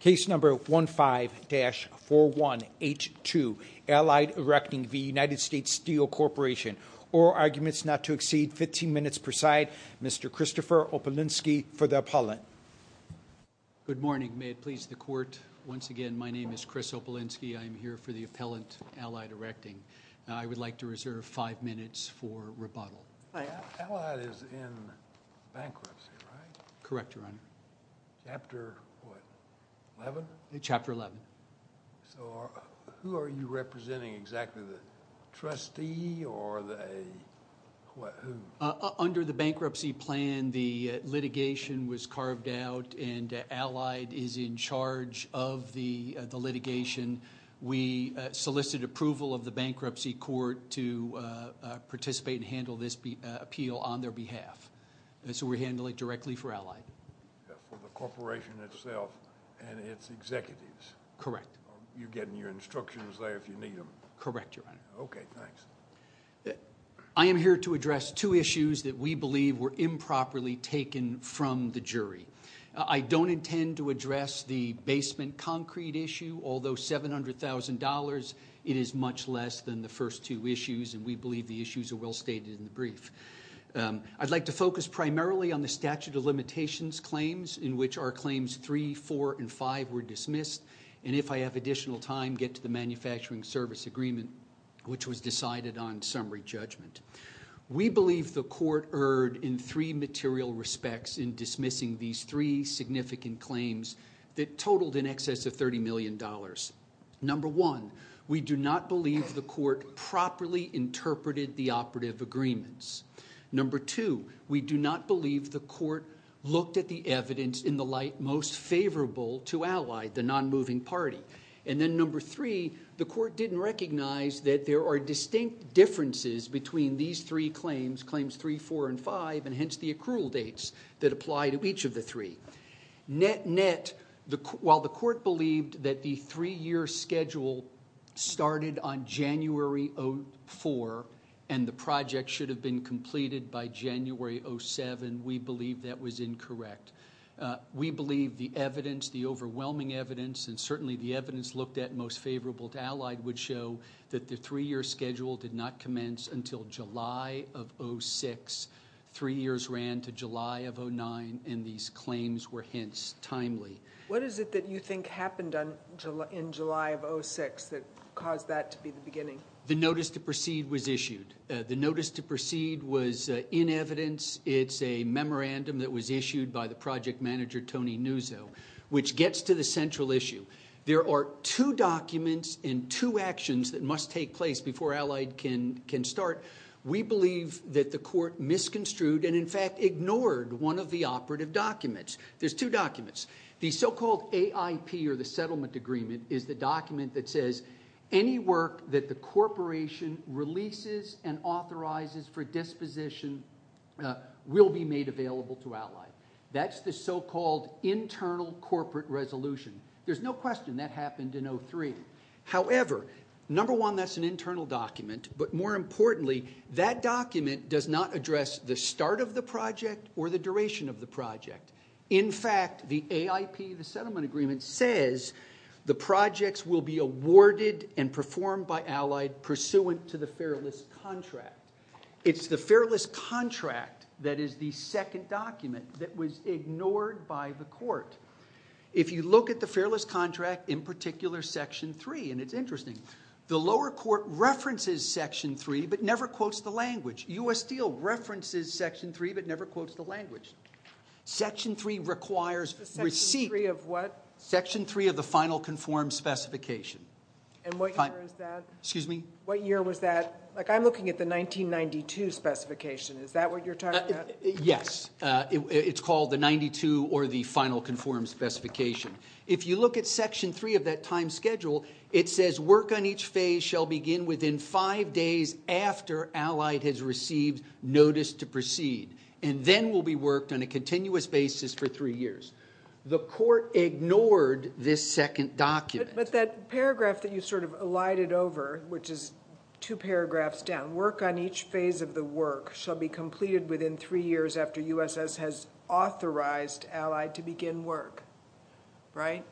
Case number 15-4182, Allied Erecting v. United States Steel Corp, oral arguments not to exceed 15 minutes per side, Mr. Christopher Opelinski for the appellant. Good morning, may it please the court, once again my name is Chris Opelinski, I am here for the appellant Allied Erecting, I would like to reserve 5 minutes for rebuttal. Allied is in bankruptcy, right? Correct, your honor. Chapter what, 11? Chapter 11. So who are you representing exactly, the trustee or the, what, who? Under the bankruptcy plan the litigation was carved out and Allied is in charge of the litigation, we solicited approval of the bankruptcy court to participate and handle this appeal on their behalf, so we're handling it directly for Allied. For the corporation itself and its executives? Correct. You're getting your instructions there if you need them? Correct, your honor. Okay, thanks. I am here to address two issues that we believe were improperly taken from the jury. I don't intend to address the basement concrete issue, although $700,000 it is much less than the first two issues and we believe the issues are well stated in the brief. I'd like to focus primarily on the statute of limitations claims in which our claims 3, 4, and 5 were dismissed and if I have additional time get to the manufacturing service agreement which was decided on summary judgment. We believe the court erred in three material respects in dismissing these three significant claims that totaled in excess of $30 million. Number one, we do not believe the court properly interpreted the operative agreements. Number two, we do not believe the court looked at the evidence in the light most favorable to Allied, the non-moving party. And then number three, the court didn't recognize that there are distinct differences between these three claims, claims 3, 4, and 5 and hence the accrual dates that apply to each of the three. Net, while the court believed that the three year schedule started on January 04 and the project should have been completed by January 07, we believe that was incorrect. We believe the evidence, the overwhelming evidence and certainly the evidence looked at most favorable to Allied would show that the three year schedule did not commence until July of 06. Three years ran to July of 09 and these claims were hence timely. What is it that you think happened in July of 06 that caused that to be the beginning? The notice to proceed was issued. The notice to proceed was in evidence. It's a memorandum that was issued by the project manager Tony Nuzzo which gets to the central issue. There are two documents and two actions that must take place before Allied can start. We believe that the court misconstrued and in fact ignored one of the operative documents. There's two documents. The so-called AIP or the settlement agreement is the document that says any work that the will be made available to Allied. That's the so-called internal corporate resolution. There's no question that happened in 03. However, number one, that's an internal document but more importantly, that document does not address the start of the project or the duration of the project. In fact, the AIP, the settlement agreement says the projects will be awarded and performed by Allied pursuant to the fair list contract. It's the fair list contract that is the second document that was ignored by the court. If you look at the fair list contract in particular section 3 and it's interesting. The lower court references section 3 but never quotes the language. U.S. Steel references section 3 but never quotes the language. Section 3 requires receipt. Section 3 of what? Section 3 of the final conformed specification. And what year is that? Excuse me? What year was that? I'm looking at the 1992 specification. Is that what you're talking about? Yes. It's called the 92 or the final conformed specification. If you look at section 3 of that time schedule, it says work on each phase shall begin within five days after Allied has received notice to proceed. And then will be worked on a continuous basis for three years. The court ignored this second document. But that paragraph that you sort of alighted over, which is two paragraphs down, work on each phase of the work shall be completed within three years after U.S.S. has authorized Allied to begin work. Right?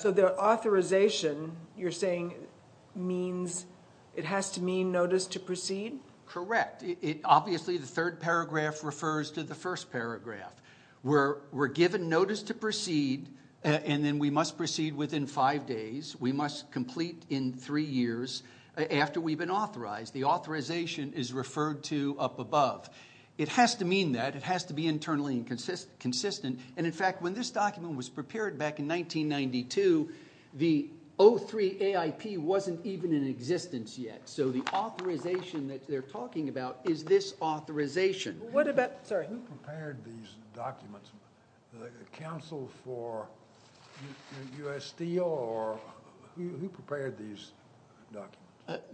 So the authorization you're saying means it has to mean notice to proceed? Correct. Obviously the third paragraph refers to the first paragraph. We're given notice to proceed and then we must proceed within five days. We must complete in three years after we've been authorized. The authorization is referred to up above. It has to mean that. It has to be internally consistent. And, in fact, when this document was prepared back in 1992, the 03 AIP wasn't even in existence yet. So the authorization that they're talking about is this authorization. Who prepared these documents? The counsel for USD or who prepared these documents?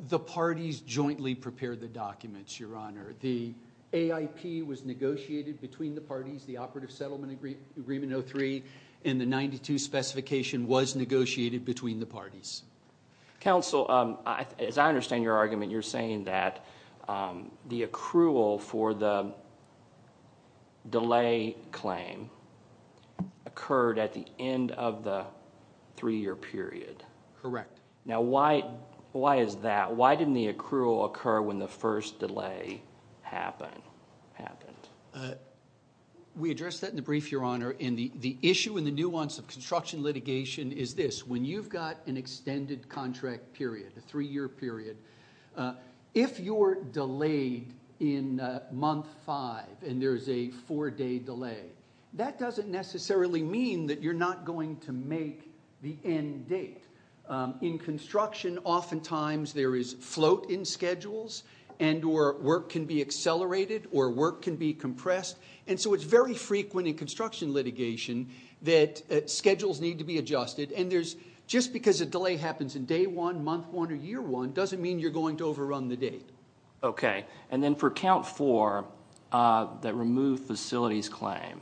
The parties jointly prepared the documents, Your Honor. The AIP was negotiated between the parties. The Operative Settlement Agreement 03 in the 92 specification was negotiated between the parties. Counsel, as I understand your argument, you're saying that the accrual for the delay claim occurred at the end of the three-year period. Correct. Now, why is that? Why didn't the accrual occur when the first delay happened? The issue and the nuance of construction litigation is this. When you've got an extended contract period, a three-year period, if you're delayed in month five and there's a four-day delay, that doesn't necessarily mean that you're not going to make the end date. In construction, oftentimes there is float in schedules and or work can be accelerated or work can be compressed. And so it's very frequent in construction litigation that schedules need to be adjusted. And just because a delay happens in day one, month one, or year one doesn't mean you're going to overrun the date. Okay. And then for count four, that removed facilities claim,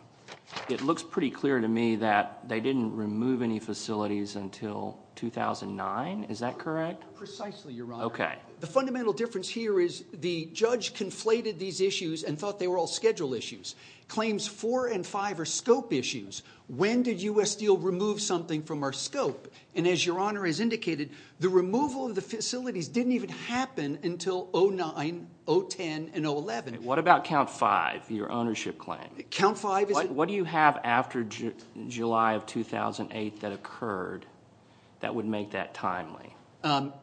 it looks pretty clear to me that they didn't remove any facilities until 2009. Is that correct? Precisely, Your Honor. Okay. The fundamental difference here is the judge conflated these issues and thought they were all schedule issues. Claims four and five are scope issues. When did U.S. Steel remove something from our scope? And as Your Honor has indicated, the removal of the facilities didn't even happen until 2009, 2010, and 2011. What about count five, your ownership claim? Count five is a- What do you have after July of 2008 that occurred that would make that timely? Allied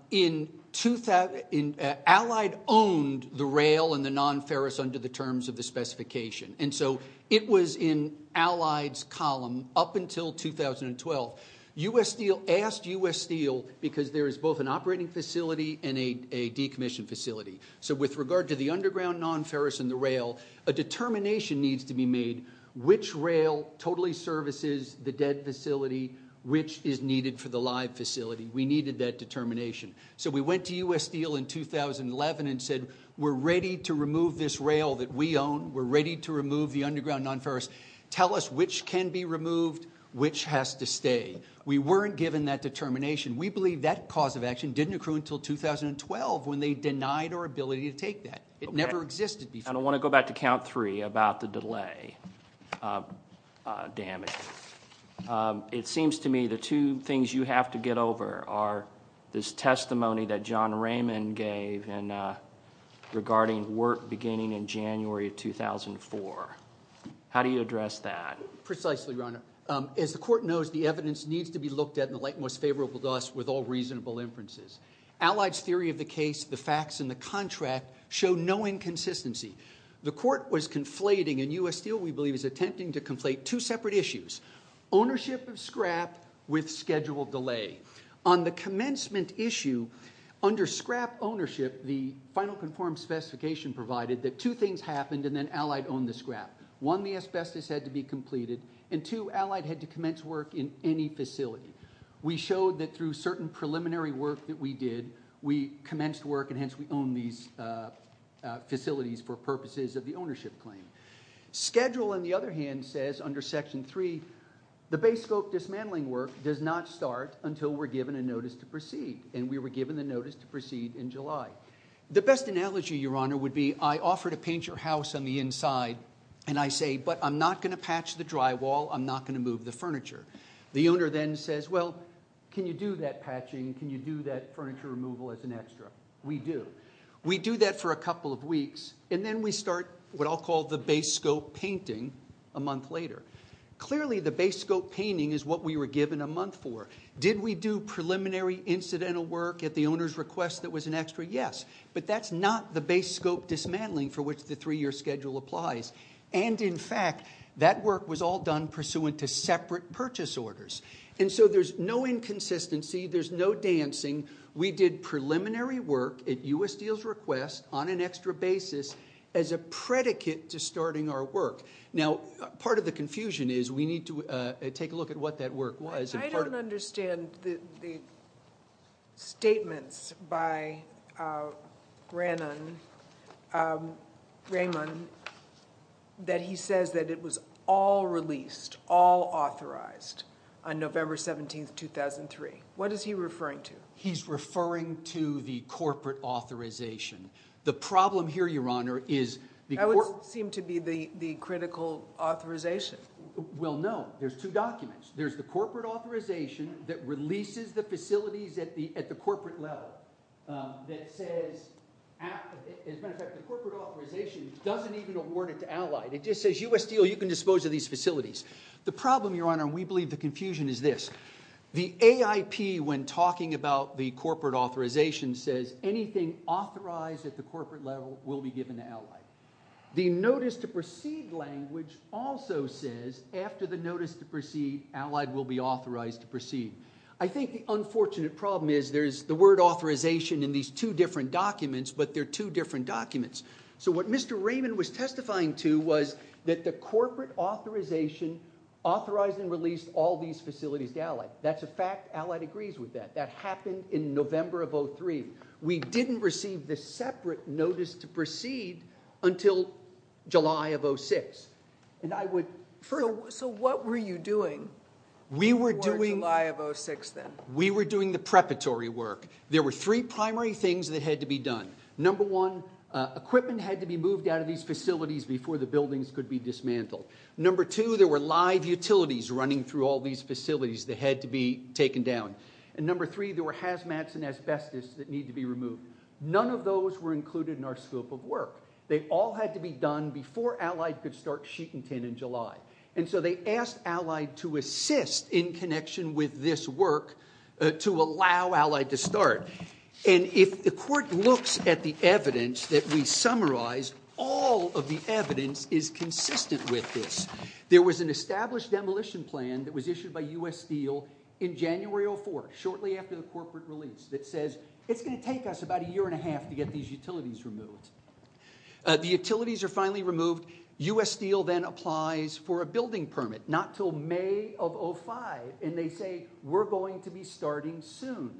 owned the rail and the non-ferrous under the terms of the specification. And so it was in Allied's column up until 2012. U.S. Steel asked U.S. Steel because there is both an operating facility and a decommissioned facility. So with regard to the underground non-ferrous and the rail, a determination needs to be made which rail totally services the dead facility, which is needed for the live facility. We needed that determination. So we went to U.S. Steel in 2011 and said we're ready to remove this rail that we own. We're ready to remove the underground non-ferrous. Tell us which can be removed, which has to stay. We weren't given that determination. We believe that cause of action didn't occur until 2012 when they denied our ability to take that. It never existed before. I want to go back to count three about the delay damage. It seems to me the two things you have to get over are this testimony that John Raymond gave regarding work beginning in January of 2004. How do you address that? Precisely, Your Honor. As the court knows, the evidence needs to be looked at in the light most favorable to us with all reasonable inferences. Allied's theory of the case, the facts, and the contract show no inconsistency. The court was conflating, and U.S. Steel, we believe, is attempting to conflate two separate issues, ownership of scrap with scheduled delay. On the commencement issue, under scrap ownership, the final conformed specification provided that two things happened and then Allied owned the scrap. One, the asbestos had to be completed, and two, Allied had to commence work in any facility. We showed that through certain preliminary work that we did, we commenced work, and hence we own these facilities for purposes of the ownership claim. Schedule, on the other hand, says under Section 3, the base scope dismantling work does not start until we're given a notice to proceed, and we were given the notice to proceed in July. The best analogy, Your Honor, would be I offer to paint your house on the inside, and I say, but I'm not going to patch the drywall. I'm not going to move the furniture. The owner then says, well, can you do that patching? Can you do that furniture removal as an extra? We do. We do that for a couple of weeks, and then we start what I'll call the base scope painting a month later. Clearly, the base scope painting is what we were given a month for. Did we do preliminary incidental work at the owner's request that was an extra? Yes, but that's not the base scope dismantling for which the three-year schedule applies. And, in fact, that work was all done pursuant to separate purchase orders. And so there's no inconsistency. There's no dancing. We did preliminary work at U.S. Steel's request on an extra basis as a predicate to starting our work. Now, part of the confusion is we need to take a look at what that work was. I don't understand the statements by Raymond that he says that it was all released, all authorized, on November 17, 2003. What is he referring to? He's referring to the corporate authorization. The problem here, Your Honor, is the corporate— That would seem to be the critical authorization. Well, no. There's two documents. There's the corporate authorization that releases the facilities at the corporate level that says— As a matter of fact, the corporate authorization doesn't even award it to Allied. It just says, U.S. Steel, you can dispose of these facilities. The problem, Your Honor, and we believe the confusion is this. The AIP, when talking about the corporate authorization, says anything authorized at the corporate level will be given to Allied. The notice-to-proceed language also says after the notice-to-proceed, Allied will be authorized to proceed. I think the unfortunate problem is there's the word authorization in these two different documents, but they're two different documents. So what Mr. Raymond was testifying to was that the corporate authorization authorized and released all these facilities to Allied. That's a fact. Allied agrees with that. That happened in November of 2003. We didn't receive the separate notice-to-proceed until July of 2006. And I would— So what were you doing before July of 2006 then? We were doing the preparatory work. There were three primary things that had to be done. Number one, equipment had to be moved out of these facilities before the buildings could be dismantled. Number two, there were live utilities running through all these facilities that had to be taken down. And number three, there were hazmats and asbestos that needed to be removed. None of those were included in our scope of work. They all had to be done before Allied could start sheeting tin in July. And so they asked Allied to assist in connection with this work to allow Allied to start. And if the court looks at the evidence that we summarized, all of the evidence is consistent with this. There was an established demolition plan that was issued by U.S. Steel in January of 2004, shortly after the corporate release, that says, it's going to take us about a year and a half to get these utilities removed. The utilities are finally removed. U.S. Steel then applies for a building permit, not until May of 2005. And they say, we're going to be starting soon.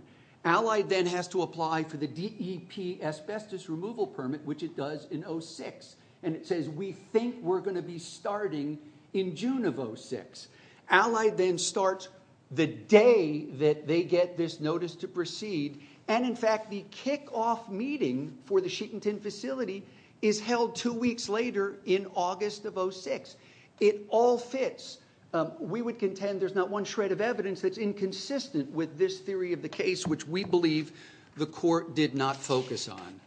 Allied then has to apply for the DEP asbestos removal permit, which it does in 2006. And it says, we think we're going to be starting in June of 2006. Allied then starts the day that they get this notice to proceed. And, in fact, the kickoff meeting for the sheeting tin facility is held two weeks later in August of 2006. It all fits. We would contend there's not one shred of evidence that's inconsistent with this theory of the case, which we believe the court did not focus on.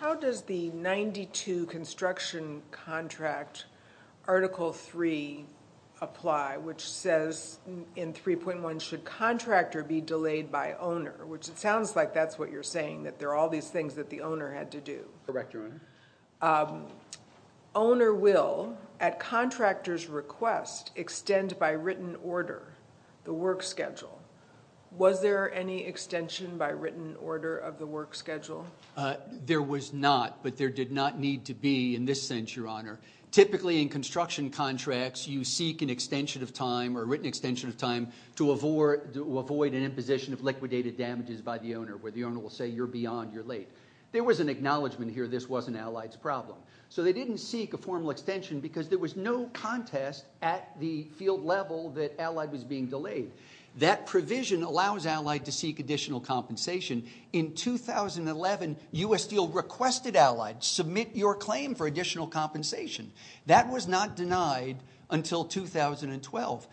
How does the 92 construction contract Article 3 apply, which says in 3.1 should contractor be delayed by owner, which it sounds like that's what you're saying, that there are all these things that the owner had to do. Correct, Your Honor. Owner will, at contractor's request, extend by written order the work schedule. Was there any extension by written order of the work schedule? There was not, but there did not need to be in this sense, Your Honor. Typically, in construction contracts, you seek an extension of time or written extension of time to avoid an imposition of liquidated damages by the owner, where the owner will say you're beyond, you're late. There was an acknowledgment here this wasn't Allied's problem. So they didn't seek a formal extension because there was no contest at the field level that Allied was being delayed. That provision allows Allied to seek additional compensation. In 2011, U.S. Deal requested Allied submit your claim for additional compensation. That was not denied until 2012.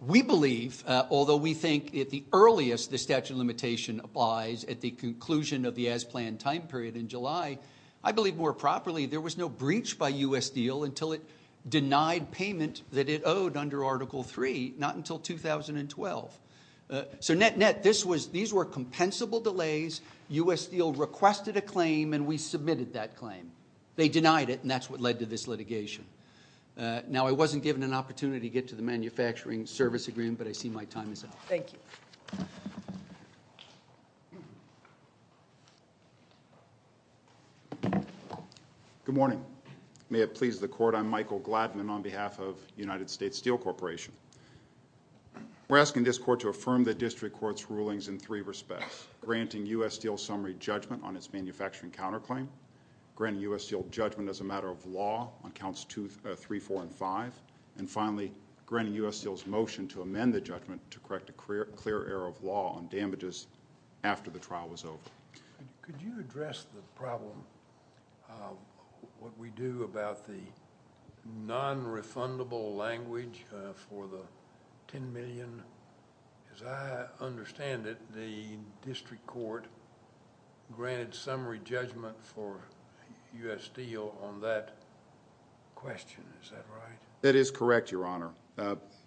We believe, although we think at the earliest the statute of limitation applies at the conclusion of the as-planned time period in July, I believe more properly there was no breach by U.S. Deal until it denied payment that it owed under Article 3, not until 2012. So net-net, these were compensable delays. U.S. Deal requested a claim, and we submitted that claim. They denied it, and that's what led to this litigation. Now, I wasn't given an opportunity to get to the manufacturing service agreement, but I see my time is up. Thank you. Good morning. May it please the court, I'm Michael Glattman on behalf of United States Steel Corporation. We're asking this court to affirm the district court's rulings in three respects, granting U.S. Steel summary judgment on its manufacturing counterclaim, granting U.S. Steel judgment as a matter of law on counts 3, 4, and 5, and finally granting U.S. Steel's motion to amend the judgment to correct a clear error of law on damages after the trial was over. Could you address the problem of what we do about the non-refundable language for the $10 million? As I understand it, the district court granted summary judgment for U.S. Steel on that question. Is that right? That is correct, Your Honor.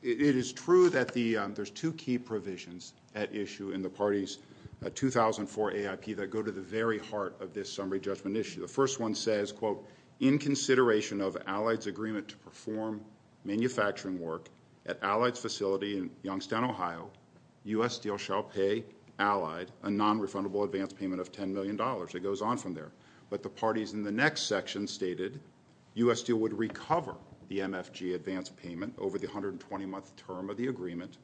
It is true that there's two key provisions at issue in the party's 2004 AIP that go to the very heart of this summary judgment issue. The first one says, quote, in consideration of Allied's agreement to perform manufacturing work at Allied's facility in Youngstown, Ohio, U.S. Steel shall pay Allied a non-refundable advance payment of $10 million. It goes on from there. But the parties in the next section stated U.S. Steel would recover the MFG advance payment over the 120-month term of the agreement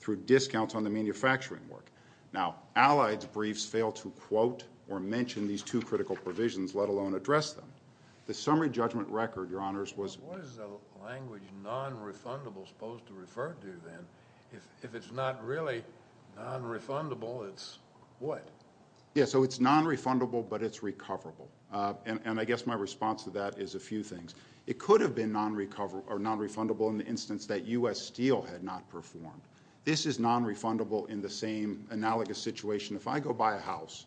through discounts on the manufacturing work. Now, Allied's briefs fail to quote or mention these two critical provisions, let alone address them. The summary judgment record, Your Honors, was What is a language non-refundable supposed to refer to then? If it's not really non-refundable, it's what? Yeah, so it's non-refundable, but it's recoverable. And I guess my response to that is a few things. It could have been non-refundable in the instance that U.S. Steel had not performed. This is non-refundable in the same analogous situation. If I go buy a house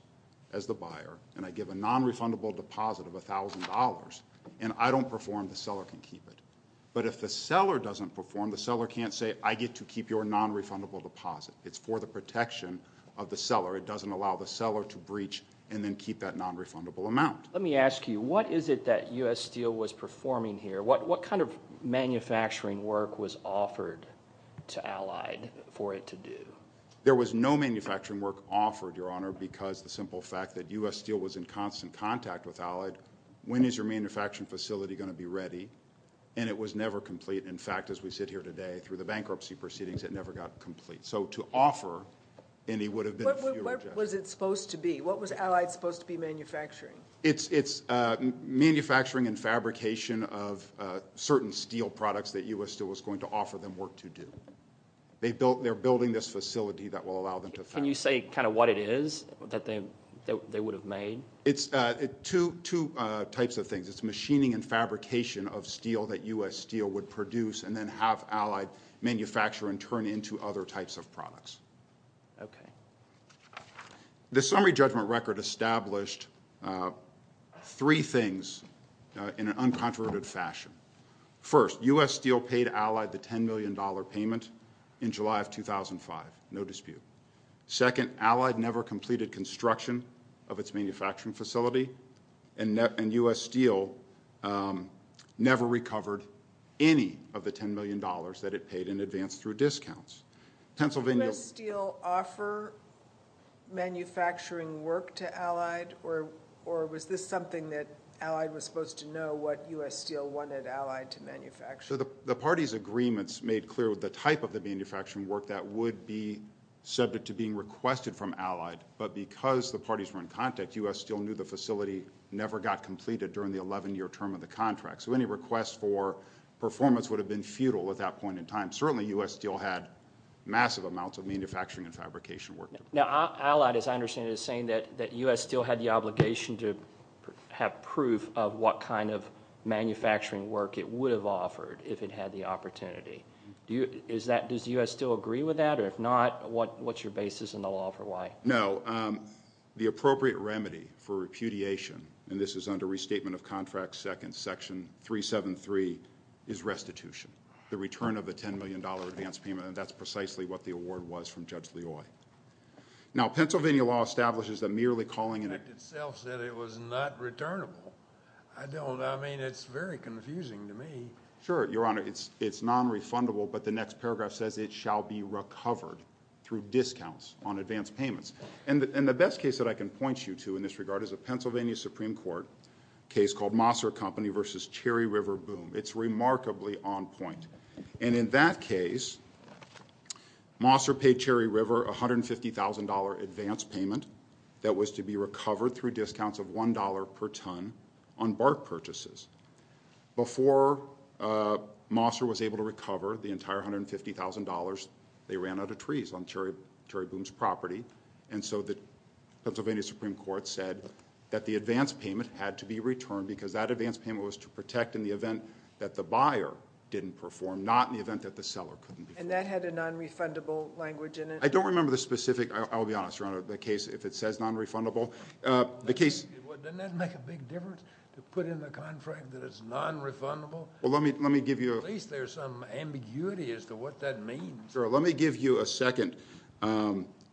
as the buyer and I give a non-refundable deposit of $1,000 and I don't perform, the seller can keep it. But if the seller doesn't perform, the seller can't say, I get to keep your non-refundable deposit. It's for the protection of the seller. It doesn't allow the seller to breach and then keep that non-refundable amount. Let me ask you, what is it that U.S. Steel was performing here? What kind of manufacturing work was offered to Allied for it to do? There was no manufacturing work offered, Your Honor, because the simple fact that U.S. Steel was in constant contact with Allied. When is your manufacturing facility going to be ready? And it was never complete. In fact, as we sit here today through the bankruptcy proceedings, it never got complete. So to offer any would have been a fewer gesture. What was it supposed to be? What was Allied supposed to be manufacturing? It's manufacturing and fabrication of certain steel products that U.S. Steel was going to offer them work to do. They're building this facility that will allow them to fabricate. Can you say kind of what it is that they would have made? It's two types of things. It's machining and fabrication of steel that U.S. Steel would produce and then have Allied manufacture and turn into other types of products. Okay. The summary judgment record established three things in an uncontroverted fashion. First, U.S. Steel paid Allied the $10 million payment in July of 2005. No dispute. Second, Allied never completed construction of its manufacturing facility. And U.S. Steel never recovered any of the $10 million that it paid in advance through discounts. Did U.S. Steel offer manufacturing work to Allied? Or was this something that Allied was supposed to know what U.S. Steel wanted Allied to manufacture? The party's agreements made clear the type of the manufacturing work that would be subject to being requested from Allied. But because the parties were in contact, U.S. Steel knew the facility never got completed during the 11-year term of the contract. So any request for performance would have been futile at that point in time. Certainly U.S. Steel had massive amounts of manufacturing and fabrication work. Now, Allied, as I understand it, is saying that U.S. Steel had the obligation to have proof of what kind of manufacturing work it would have offered if it had the opportunity. Does U.S. Steel agree with that? Or if not, what's your basis in the law for why? No, the appropriate remedy for repudiation, and this is under Restatement of Contracts, Section 373, is restitution. The return of the $10 million advance payment. And that's precisely what the award was from Judge Loy. Now, Pennsylvania law establishes that merely calling an act itself said it was not returnable. I don't, I mean, it's very confusing to me. Sure, Your Honor, it's nonrefundable, but the next paragraph says it shall be recovered through discounts on advance payments. And the best case that I can point you to in this regard is a Pennsylvania Supreme Court case called Mosser Company v. Cherry River Boom. It's remarkably on point. And in that case, Mosser paid Cherry River $150,000 advance payment that was to be recovered through discounts of $1 per ton on bark purchases. Before Mosser was able to recover the entire $150,000, they ran out of trees on Cherry Boom's property. And so the Pennsylvania Supreme Court said that the advance payment had to be returned because that advance payment was to protect in the event that the buyer didn't perform, not in the event that the seller couldn't perform. And that had a nonrefundable language in it? I don't remember the specific, I'll be honest, Your Honor, the case, if it says nonrefundable. Doesn't that make a big difference to put in the contract that it's nonrefundable? Well, let me give you a- At least there's some ambiguity as to what that means. Sure, let me give you a second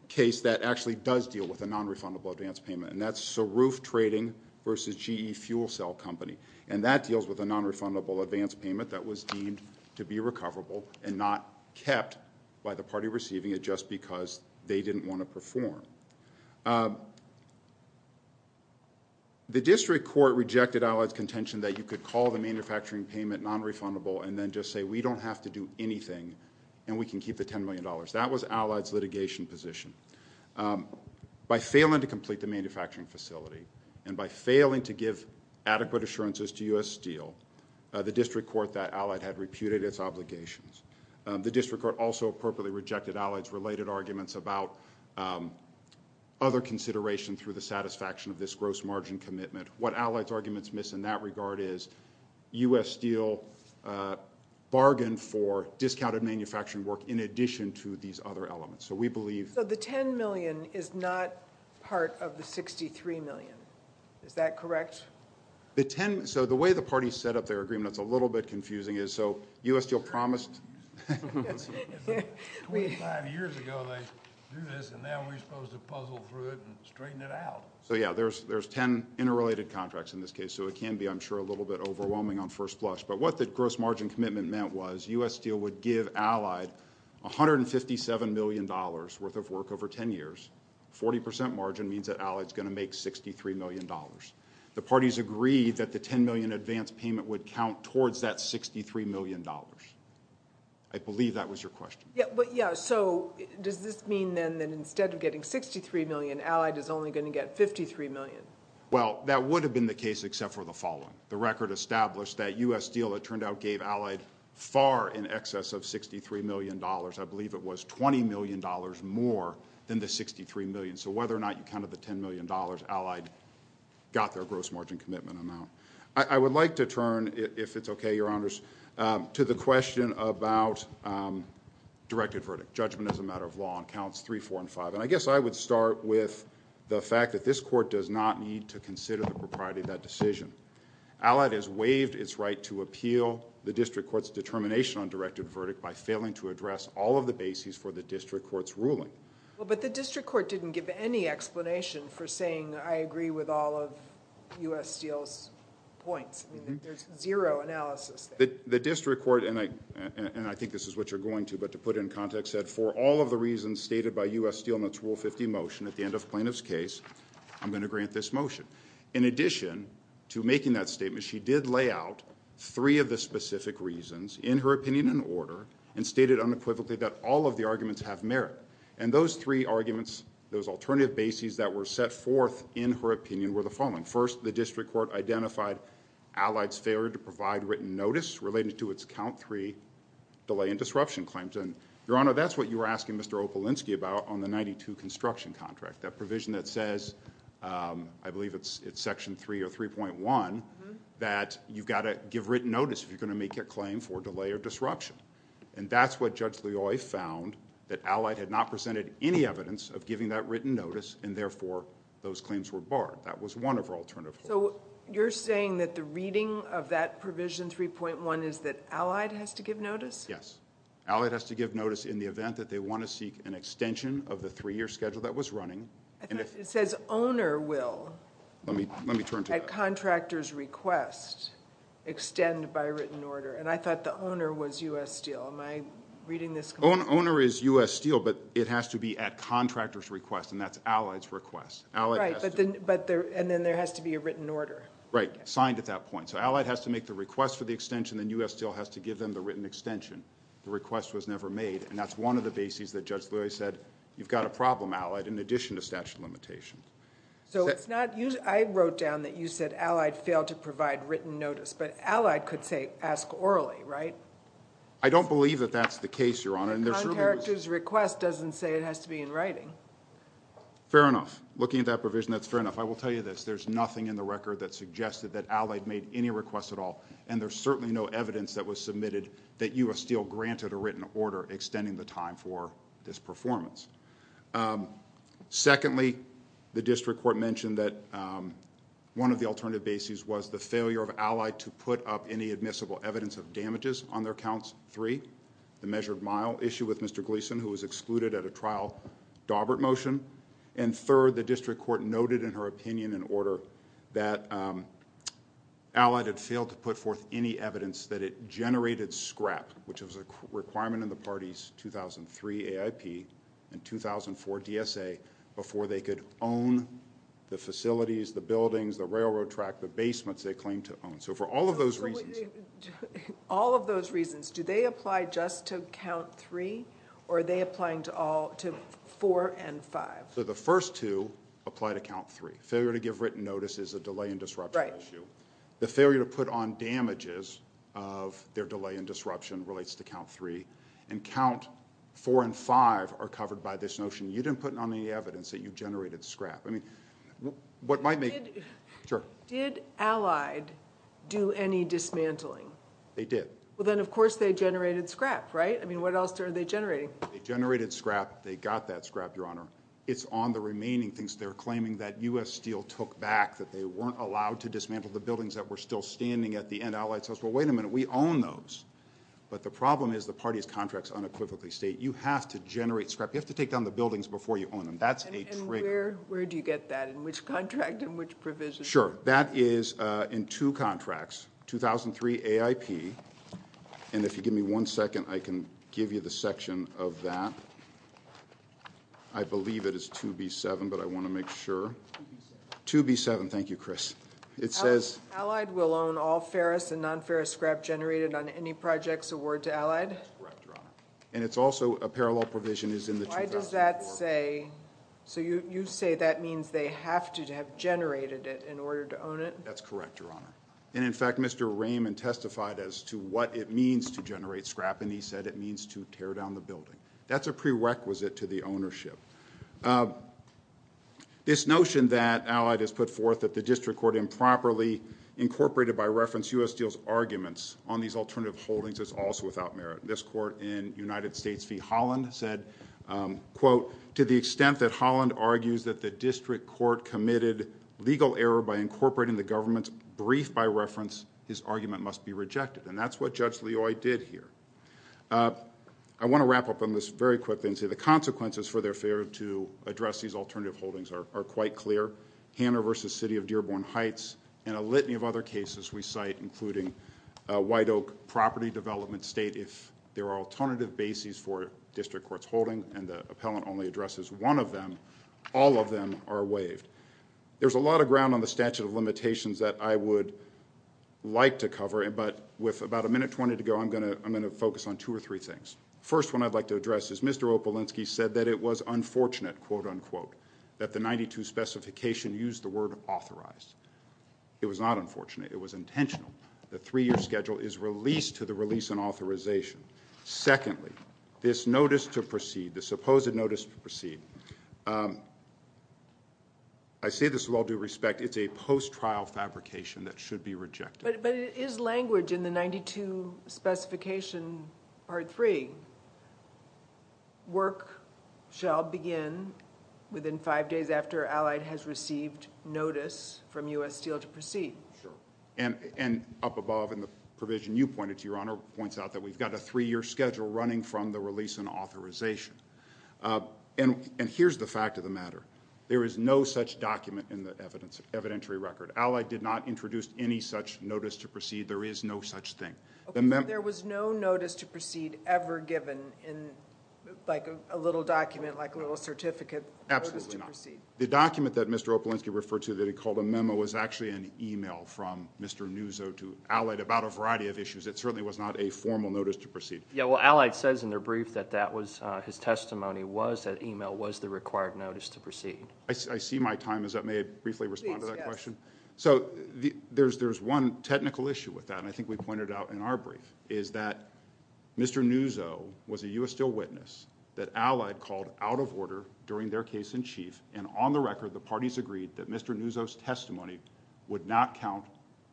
case that actually does deal with a nonrefundable advance payment, and that's Saruf Trading v. GE Fuel Cell Company. And that deals with a nonrefundable advance payment that was deemed to be recoverable and not kept by the party receiving it just because they didn't want to perform. The district court rejected Allied's contention that you could call the manufacturing payment nonrefundable and then just say we don't have to do anything and we can keep the $10 million. That was Allied's litigation position. By failing to complete the manufacturing facility and by failing to give adequate assurances to U.S. Steel, the district court that Allied had reputed its obligations. The district court also appropriately rejected Allied's related arguments about other consideration through the satisfaction of this gross margin commitment. What Allied's arguments miss in that regard is U.S. Steel bargained for discounted manufacturing work in addition to these other elements. So we believe- So the $10 million is not part of the $63 million. Is that correct? So the way the party set up their agreement, it's a little bit confusing. So U.S. Steel promised 25 years ago they'd do this, and now we're supposed to puzzle through it and straighten it out. So, yeah, there's 10 interrelated contracts in this case. So it can be, I'm sure, a little bit overwhelming on first blush. But what the gross margin commitment meant was U.S. Steel would give Allied $157 million worth of work over 10 years. 40% margin means that Allied's going to make $63 million. The parties agreed that the $10 million advance payment would count towards that $63 million. I believe that was your question. Yeah, so does this mean then that instead of getting $63 million, Allied is only going to get $53 million? Well, that would have been the case except for the following. The record established that U.S. Steel, it turned out, gave Allied far in excess of $63 million. I believe it was $20 million more than the $63 million. So whether or not you counted the $10 million, Allied got their gross margin commitment amount. I would like to turn, if it's okay, Your Honors, to the question about directed verdict. Judgment is a matter of law and counts three, four, and five. And I guess I would start with the fact that this court does not need to consider the propriety of that decision. Allied has waived its right to appeal the district court's determination on directed verdict by failing to address all of the bases for the district court's ruling. But the district court didn't give any explanation for saying I agree with all of U.S. Steel's points. There's zero analysis there. The district court, and I think this is what you're going to, but to put it in context, said for all of the reasons stated by U.S. Steel in its Rule 50 motion, at the end of plaintiff's case, I'm going to grant this motion. In addition to making that statement, she did lay out three of the specific reasons in her opinion and order and stated unequivocally that all of the arguments have merit. And those three arguments, those alternative bases that were set forth in her opinion were the following. First, the district court identified Allied's failure to provide written notice related to its count three delay and disruption claims. And, Your Honor, that's what you were asking Mr. Opelinski about on the 92 construction contract, that provision that says, I believe it's section 3 or 3.1, that you've got to give written notice if you're going to make a claim for delay or disruption. And that's what Judge Loy found, that Allied had not presented any evidence of giving that written notice and therefore those claims were barred. That was one of her alternative. So you're saying that the reading of that provision 3.1 is that Allied has to give notice? Yes. Allied has to give notice in the event that they want to seek an extension of the three-year schedule that was running. It says owner will, at contractor's request, extend by written order. And I thought the owner was U.S. Steel. Am I reading this correctly? Owner is U.S. Steel, but it has to be at contractor's request, and that's Allied's request. Right. And then there has to be a written order. Right. Signed at that point. So Allied has to make the request for the extension, then U.S. Steel has to give them the written extension. The request was never made, and that's one of the bases that Judge Loy said, you've got a problem, Allied, in addition to statute of limitations. So it's not you – I wrote down that you said Allied failed to provide written notice, but Allied could say ask orally, right? I don't believe that that's the case, Your Honor. At contractor's request doesn't say it has to be in writing. Fair enough. Looking at that provision, that's fair enough. I will tell you this, there's nothing in the record that suggested that Allied made any requests at all, and there's certainly no evidence that was submitted that U.S. Steel granted a written order extending the time for this performance. Secondly, the district court mentioned that one of the alternative bases was the failure of Allied to put up any admissible evidence of damages on their counts three, the measured mile issue with Mr. Gleason, who was excluded at a trial, Daubert motion, and third, the district court noted in her opinion and order that Allied had failed to put forth any evidence that it generated scrap, which was a requirement in the party's 2003 AIP and 2004 DSA, before they could own the facilities, the buildings, the railroad track, the basements they claimed to own. So for all of those reasons – So the first two apply to count three. Failure to give written notice is a delay and disruption issue. The failure to put on damages of their delay and disruption relates to count three, and count four and five are covered by this notion, you didn't put on any evidence that you generated scrap. Did Allied do any dismantling? They did. Then of course they generated scrap, right? I mean, what else are they generating? They generated scrap. They got that scrap, Your Honor. It's on the remaining things they're claiming that U.S. Steel took back, that they weren't allowed to dismantle the buildings that were still standing at the end. Allied says, well, wait a minute, we own those. But the problem is the party's contracts unequivocally state you have to generate scrap. You have to take down the buildings before you own them. That's a trigger. And where do you get that? In which contract and which provision? Sure. That is in two contracts, 2003 AIP. And if you give me one second, I can give you the section of that. I believe it is 2B7, but I want to make sure. 2B7. 2B7. Thank you, Chris. It says. Allied will own all ferrous and non-ferrous scrap generated on any projects award to Allied? That's correct, Your Honor. And it's also a parallel provision is in the 2004. Why does that say? So you say that means they have to have generated it in order to own it? That's correct, Your Honor. And, in fact, Mr. Raymond testified as to what it means to generate scrap, and he said it means to tear down the building. That's a prerequisite to the ownership. This notion that Allied has put forth that the district court improperly incorporated by reference U.S. deals arguments on these alternative holdings is also without merit. This court in United States v. Holland said, quote, to the extent that Holland argues that the district court committed legal error by incorporating the government's brief by reference, his argument must be rejected. And that's what Judge Loy did here. I want to wrap up on this very quickly and say the consequences for their failure to address these alternative holdings are quite clear. Hanna v. City of Dearborn Heights and a litany of other cases we cite, including White Oak Property Development State, if there are alternative bases for district court's holding and the appellant only addresses one of them, all of them are waived. There's a lot of ground on the statute of limitations that I would like to cover, but with about a minute 20 to go, I'm going to focus on two or three things. First one I'd like to address is Mr. Opolinsky said that it was unfortunate, quote, unquote, that the 92 specification used the word authorized. It was not unfortunate. It was intentional. The three-year schedule is released to the release and authorization. Secondly, this notice to proceed, the supposed notice to proceed, I say this with all due respect, it's a post-trial fabrication that should be rejected. But it is language in the 92 specification part three. Work shall begin within five days after Allied has received notice from U.S. Steel to proceed. Sure. And up above in the provision you pointed to, Your Honor, points out that we've got a three-year schedule running from the release and authorization. And here's the fact of the matter. There is no such document in the evidentiary record. Allied did not introduce any such notice to proceed. There is no such thing. There was no notice to proceed ever given in, like, a little document, like a little certificate notice to proceed? Absolutely not. The document that Mr. Opelensky referred to that he called a memo was actually an e-mail from Mr. Nuzzo to Allied about a variety of issues. It certainly was not a formal notice to proceed. Yeah, well, Allied says in their brief that that was his testimony, was that e-mail was the required notice to proceed. I see my time is up. May I briefly respond to that question? Please, yes. So there's one technical issue with that, and I think we pointed it out in our brief, is that Mr. Nuzzo was a U.S. still witness that Allied called out of order during their case in chief, and on the record the parties agreed that Mr. Nuzzo's testimony would not count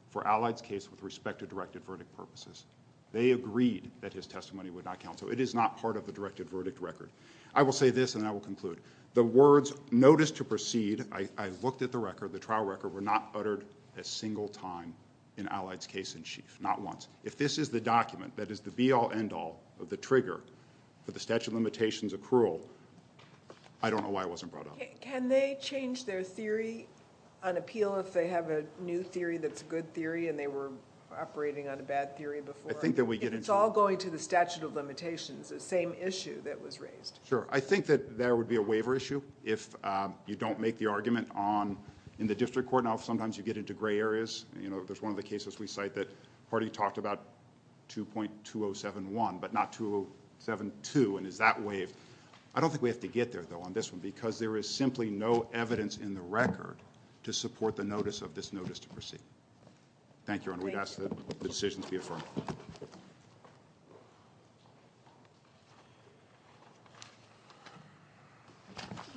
for Allied's case with respect to directed verdict purposes. They agreed that his testimony would not count. So it is not part of the directed verdict record. I will say this, and then I will conclude. The words, notice to proceed, I looked at the record, the trial record, were not uttered a single time in Allied's case in chief, not once. If this is the document that is the be-all, end-all of the trigger for the statute of limitations accrual, I don't know why it wasn't brought up. Can they change their theory on appeal if they have a new theory that's a good theory and they were operating on a bad theory before? If it's all going to the statute of limitations, the same issue that was raised? Sure. I think that there would be a waiver issue if you don't make the argument in the district court. I don't know if sometimes you get into gray areas. There's one of the cases we cite that party talked about 2.2071 but not 2072, and is that waived? I don't think we have to get there, though, on this one, because there is simply no evidence in the record to support the notice of this notice to proceed. Thank you, Your Honor. We'd ask that the decision be affirmed.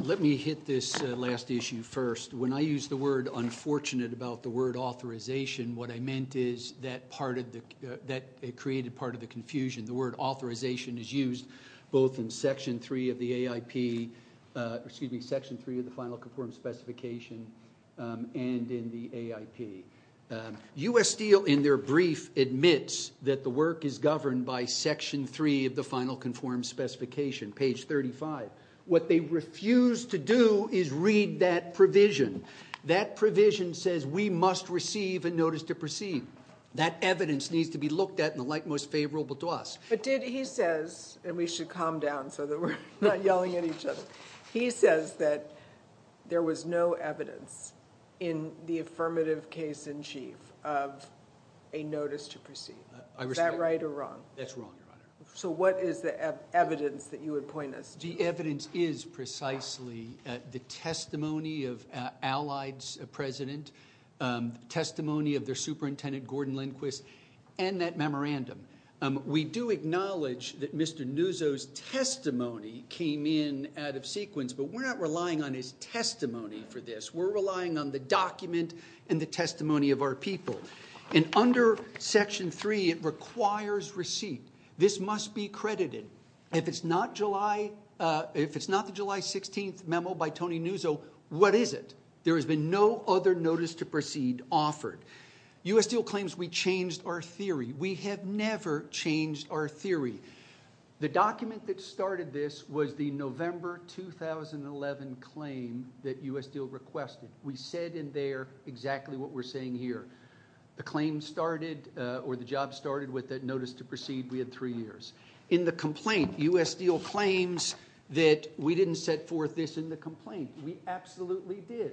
Let me hit this last issue first. When I use the word unfortunate about the word authorization, what I meant is that it created part of the confusion. The word authorization is used both in Section 3 of the final conformed specification and in the AIP. U.S. Steel in their brief admits that the work is governed by Section 3 of the final conformed specification, page 35. What they refuse to do is read that provision. That provision says we must receive a notice to proceed. That evidence needs to be looked at in the light most favorable to us. But did he says, and we should calm down so that we're not yelling at each other, he says that there was no evidence in the affirmative case in chief of a notice to proceed. Is that right or wrong? That's wrong, Your Honor. So what is the evidence that you would point us to? The evidence is precisely the testimony of Allied's president, testimony of their superintendent, Gordon Lindquist, and that memorandum. We do acknowledge that Mr. Nuzzo's testimony came in out of sequence, but we're not relying on his testimony for this. We're relying on the document and the testimony of our people. And under Section 3, it requires receipt. This must be credited. If it's not the July 16th memo by Tony Nuzzo, what is it? There has been no other notice to proceed offered. U.S. Deal claims we changed our theory. We have never changed our theory. The document that started this was the November 2011 claim that U.S. Deal requested. We said in there exactly what we're saying here. The claim started or the job started with that notice to proceed. We had three years. In the complaint, U.S. Deal claims that we didn't set forth this in the complaint. We absolutely did.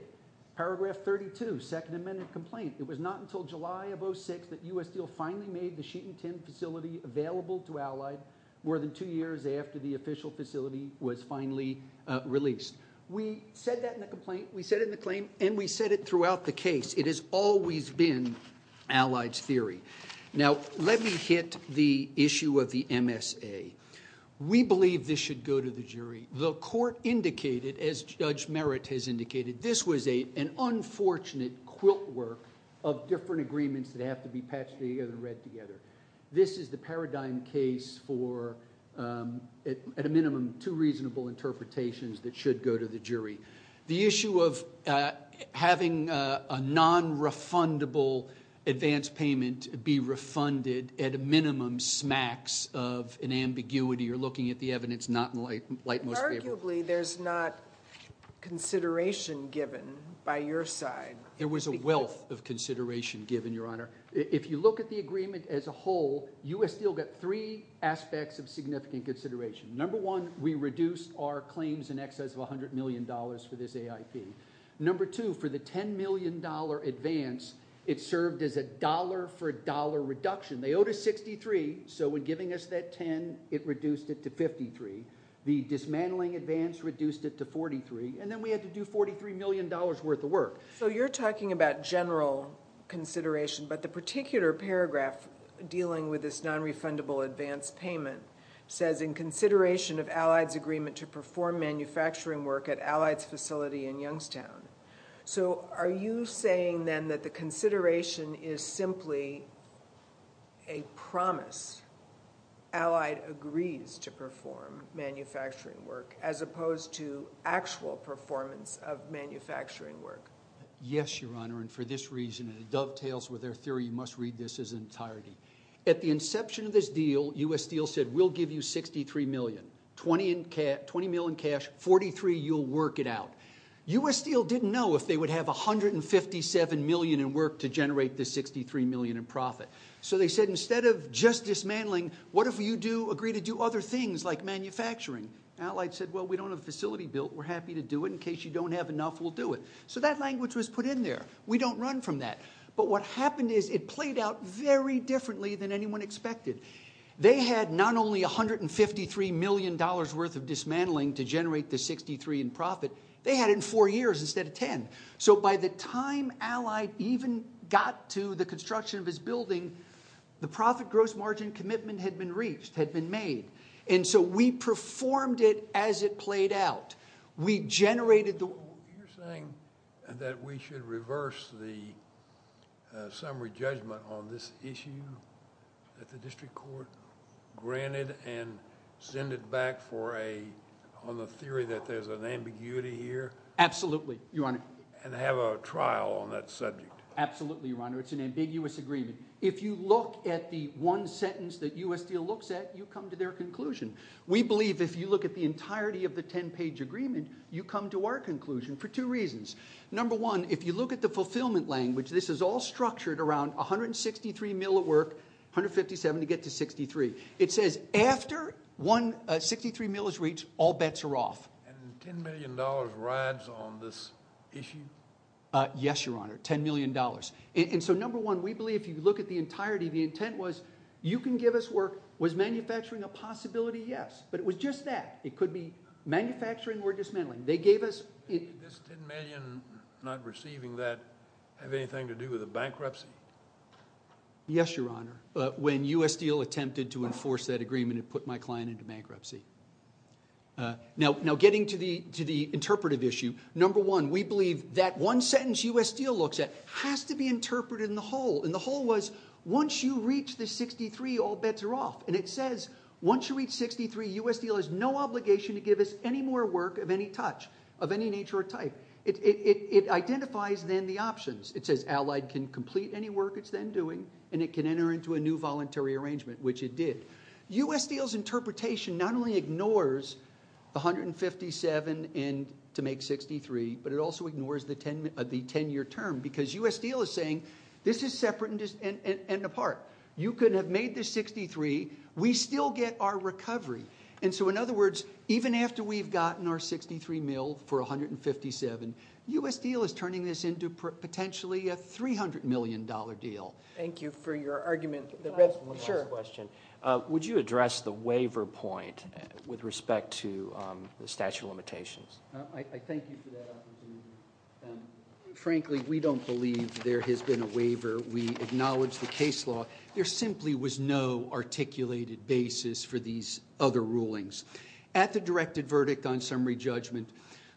Paragraph 32, Second Amendment complaint, it was not until July of 2006 that U.S. Deal finally made the sheet and tin facility available to Allied more than two years after the official facility was finally released. We said that in the complaint, we said it in the claim, and we said it throughout the case. It has always been Allied's theory. Now, let me hit the issue of the MSA. We believe this should go to the jury. The court indicated, as Judge Merritt has indicated, this was an unfortunate quilt work of different agreements that have to be patched together and read together. This is the paradigm case for, at a minimum, two reasonable interpretations that should go to the jury. The issue of having a non-refundable advance payment be refunded at a minimum smacks of an ambiguity or looking at the evidence not in the light most favorable. Arguably, there's not consideration given by your side. There was a wealth of consideration given, Your Honor. If you look at the agreement as a whole, U.S. Deal got three aspects of significant consideration. Number one, we reduced our claims in excess of $100 million for this AIP. Number two, for the $10 million advance, it served as a dollar-for-dollar reduction. They owed us 63, so in giving us that 10, it reduced it to 53. The dismantling advance reduced it to 43, and then we had to do $43 million worth of work. So you're talking about general consideration, but the particular paragraph dealing with this non-refundable advance payment says, in consideration of Allied's agreement to perform manufacturing work at Allied's facility in Youngstown. So are you saying, then, that the consideration is simply a promise? Allied agrees to perform manufacturing work as opposed to actual performance of manufacturing work. Yes, Your Honor, and for this reason, and it dovetails with their theory, you must read this in its entirety. At the inception of this deal, U.S. Deal said, we'll give you $63 million, $20 million cash, $43, you'll work it out. U.S. Deal didn't know if they would have $157 million in work to generate this $63 million in profit. So they said, instead of just dismantling, what if you agree to do other things like manufacturing? Allied said, well, we don't have a facility built. We're happy to do it. In case you don't have enough, we'll do it. So that language was put in there. We don't run from that. But what happened is it played out very differently than anyone expected. They had not only $153 million worth of dismantling to generate the $63 million in profit. They had it in four years instead of ten. So by the time Allied even got to the construction of his building, the profit gross margin commitment had been reached, had been made. And so we performed it as it played out. You're saying that we should reverse the summary judgment on this issue at the district court, grant it, and send it back on the theory that there's an ambiguity here? Absolutely, Your Honor. And have a trial on that subject? Absolutely, Your Honor. It's an ambiguous agreement. If you look at the one sentence that U.S. Deal looks at, you come to their conclusion. We believe if you look at the entirety of the ten-page agreement, you come to our conclusion for two reasons. Number one, if you look at the fulfillment language, this is all structured around 163 mil at work, 157 to get to 63. It says after 63 mil is reached, all bets are off. And $10 million rides on this issue? Yes, Your Honor, $10 million. And so number one, we believe if you look at the entirety, the intent was you can give us work. Was manufacturing a possibility? Yes. But it was just that. It could be manufacturing or dismantling. They gave us – Did this $10 million not receiving that have anything to do with a bankruptcy? Yes, Your Honor. When U.S. Deal attempted to enforce that agreement, it put my client into bankruptcy. Now getting to the interpretive issue, number one, we believe that one sentence U.S. Deal looks at has to be interpreted in the whole. And the whole was once you reach the 63, all bets are off. And it says once you reach 63, U.S. Deal has no obligation to give us any more work of any touch, of any nature or type. It identifies then the options. It says Allied can complete any work it's then doing, and it can enter into a new voluntary arrangement, which it did. U.S. Deal's interpretation not only ignores the 157 to make 63, but it also ignores the 10-year term because U.S. Deal is saying this is separate and apart. You could have made the 63. We still get our recovery. And so, in other words, even after we've gotten our 63 mil for 157, U.S. Deal is turning this into potentially a $300 million deal. Thank you for your argument. Sure. Would you address the waiver point with respect to the statute of limitations? I thank you for that opportunity. Frankly, we don't believe there has been a waiver. We acknowledge the case law. There simply was no articulated basis for these other rulings. At the directed verdict on summary judgment,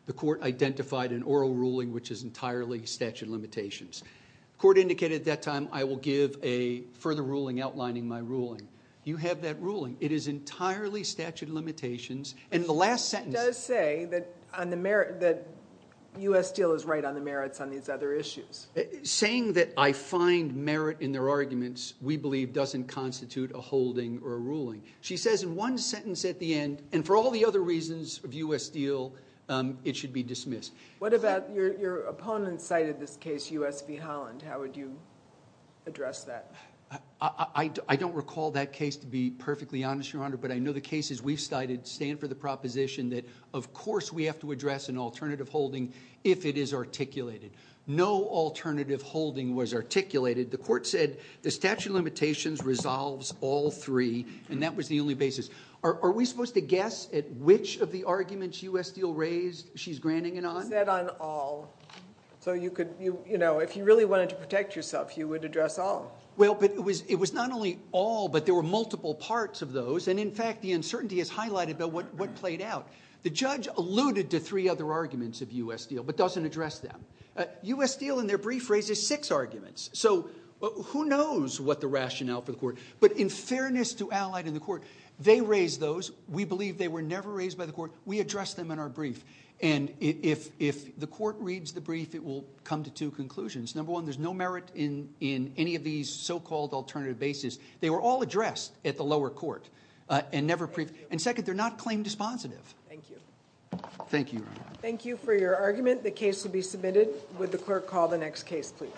the court identified an oral ruling which is entirely statute of limitations. The court indicated at that time, I will give a further ruling outlining my ruling. You have that ruling. It is entirely statute of limitations. And the last sentence— It does say that U.S. Deal is right on the merits on these other issues. Saying that I find merit in their arguments, we believe, doesn't constitute a holding or a ruling. She says in one sentence at the end, and for all the other reasons of U.S. Deal, it should be dismissed. What about your opponent's side of this case, U.S. v. Holland? How would you address that? I don't recall that case, to be perfectly honest, Your Honor. But I know the cases we've cited stand for the proposition that, of course, we have to address an alternative holding if it is articulated. No alternative holding was articulated. The court said the statute of limitations resolves all three, and that was the only basis. Are we supposed to guess at which of the arguments U.S. Deal raised she's granting it on? She said on all. So if you really wanted to protect yourself, you would address all. Well, but it was not only all, but there were multiple parts of those. And, in fact, the uncertainty is highlighted about what played out. The judge alluded to three other arguments of U.S. Deal but doesn't address them. U.S. Deal, in their brief, raises six arguments. So who knows what the rationale for the court. But in fairness to Allied and the court, they raised those. We believe they were never raised by the court. We addressed them in our brief. And if the court reads the brief, it will come to two conclusions. Number one, there's no merit in any of these so-called alternative bases. They were all addressed at the lower court and never briefed. And, second, they're not claim dispositive. Thank you. Thank you, Your Honor. Thank you for your argument. The case will be submitted. Would the court call the next case, please?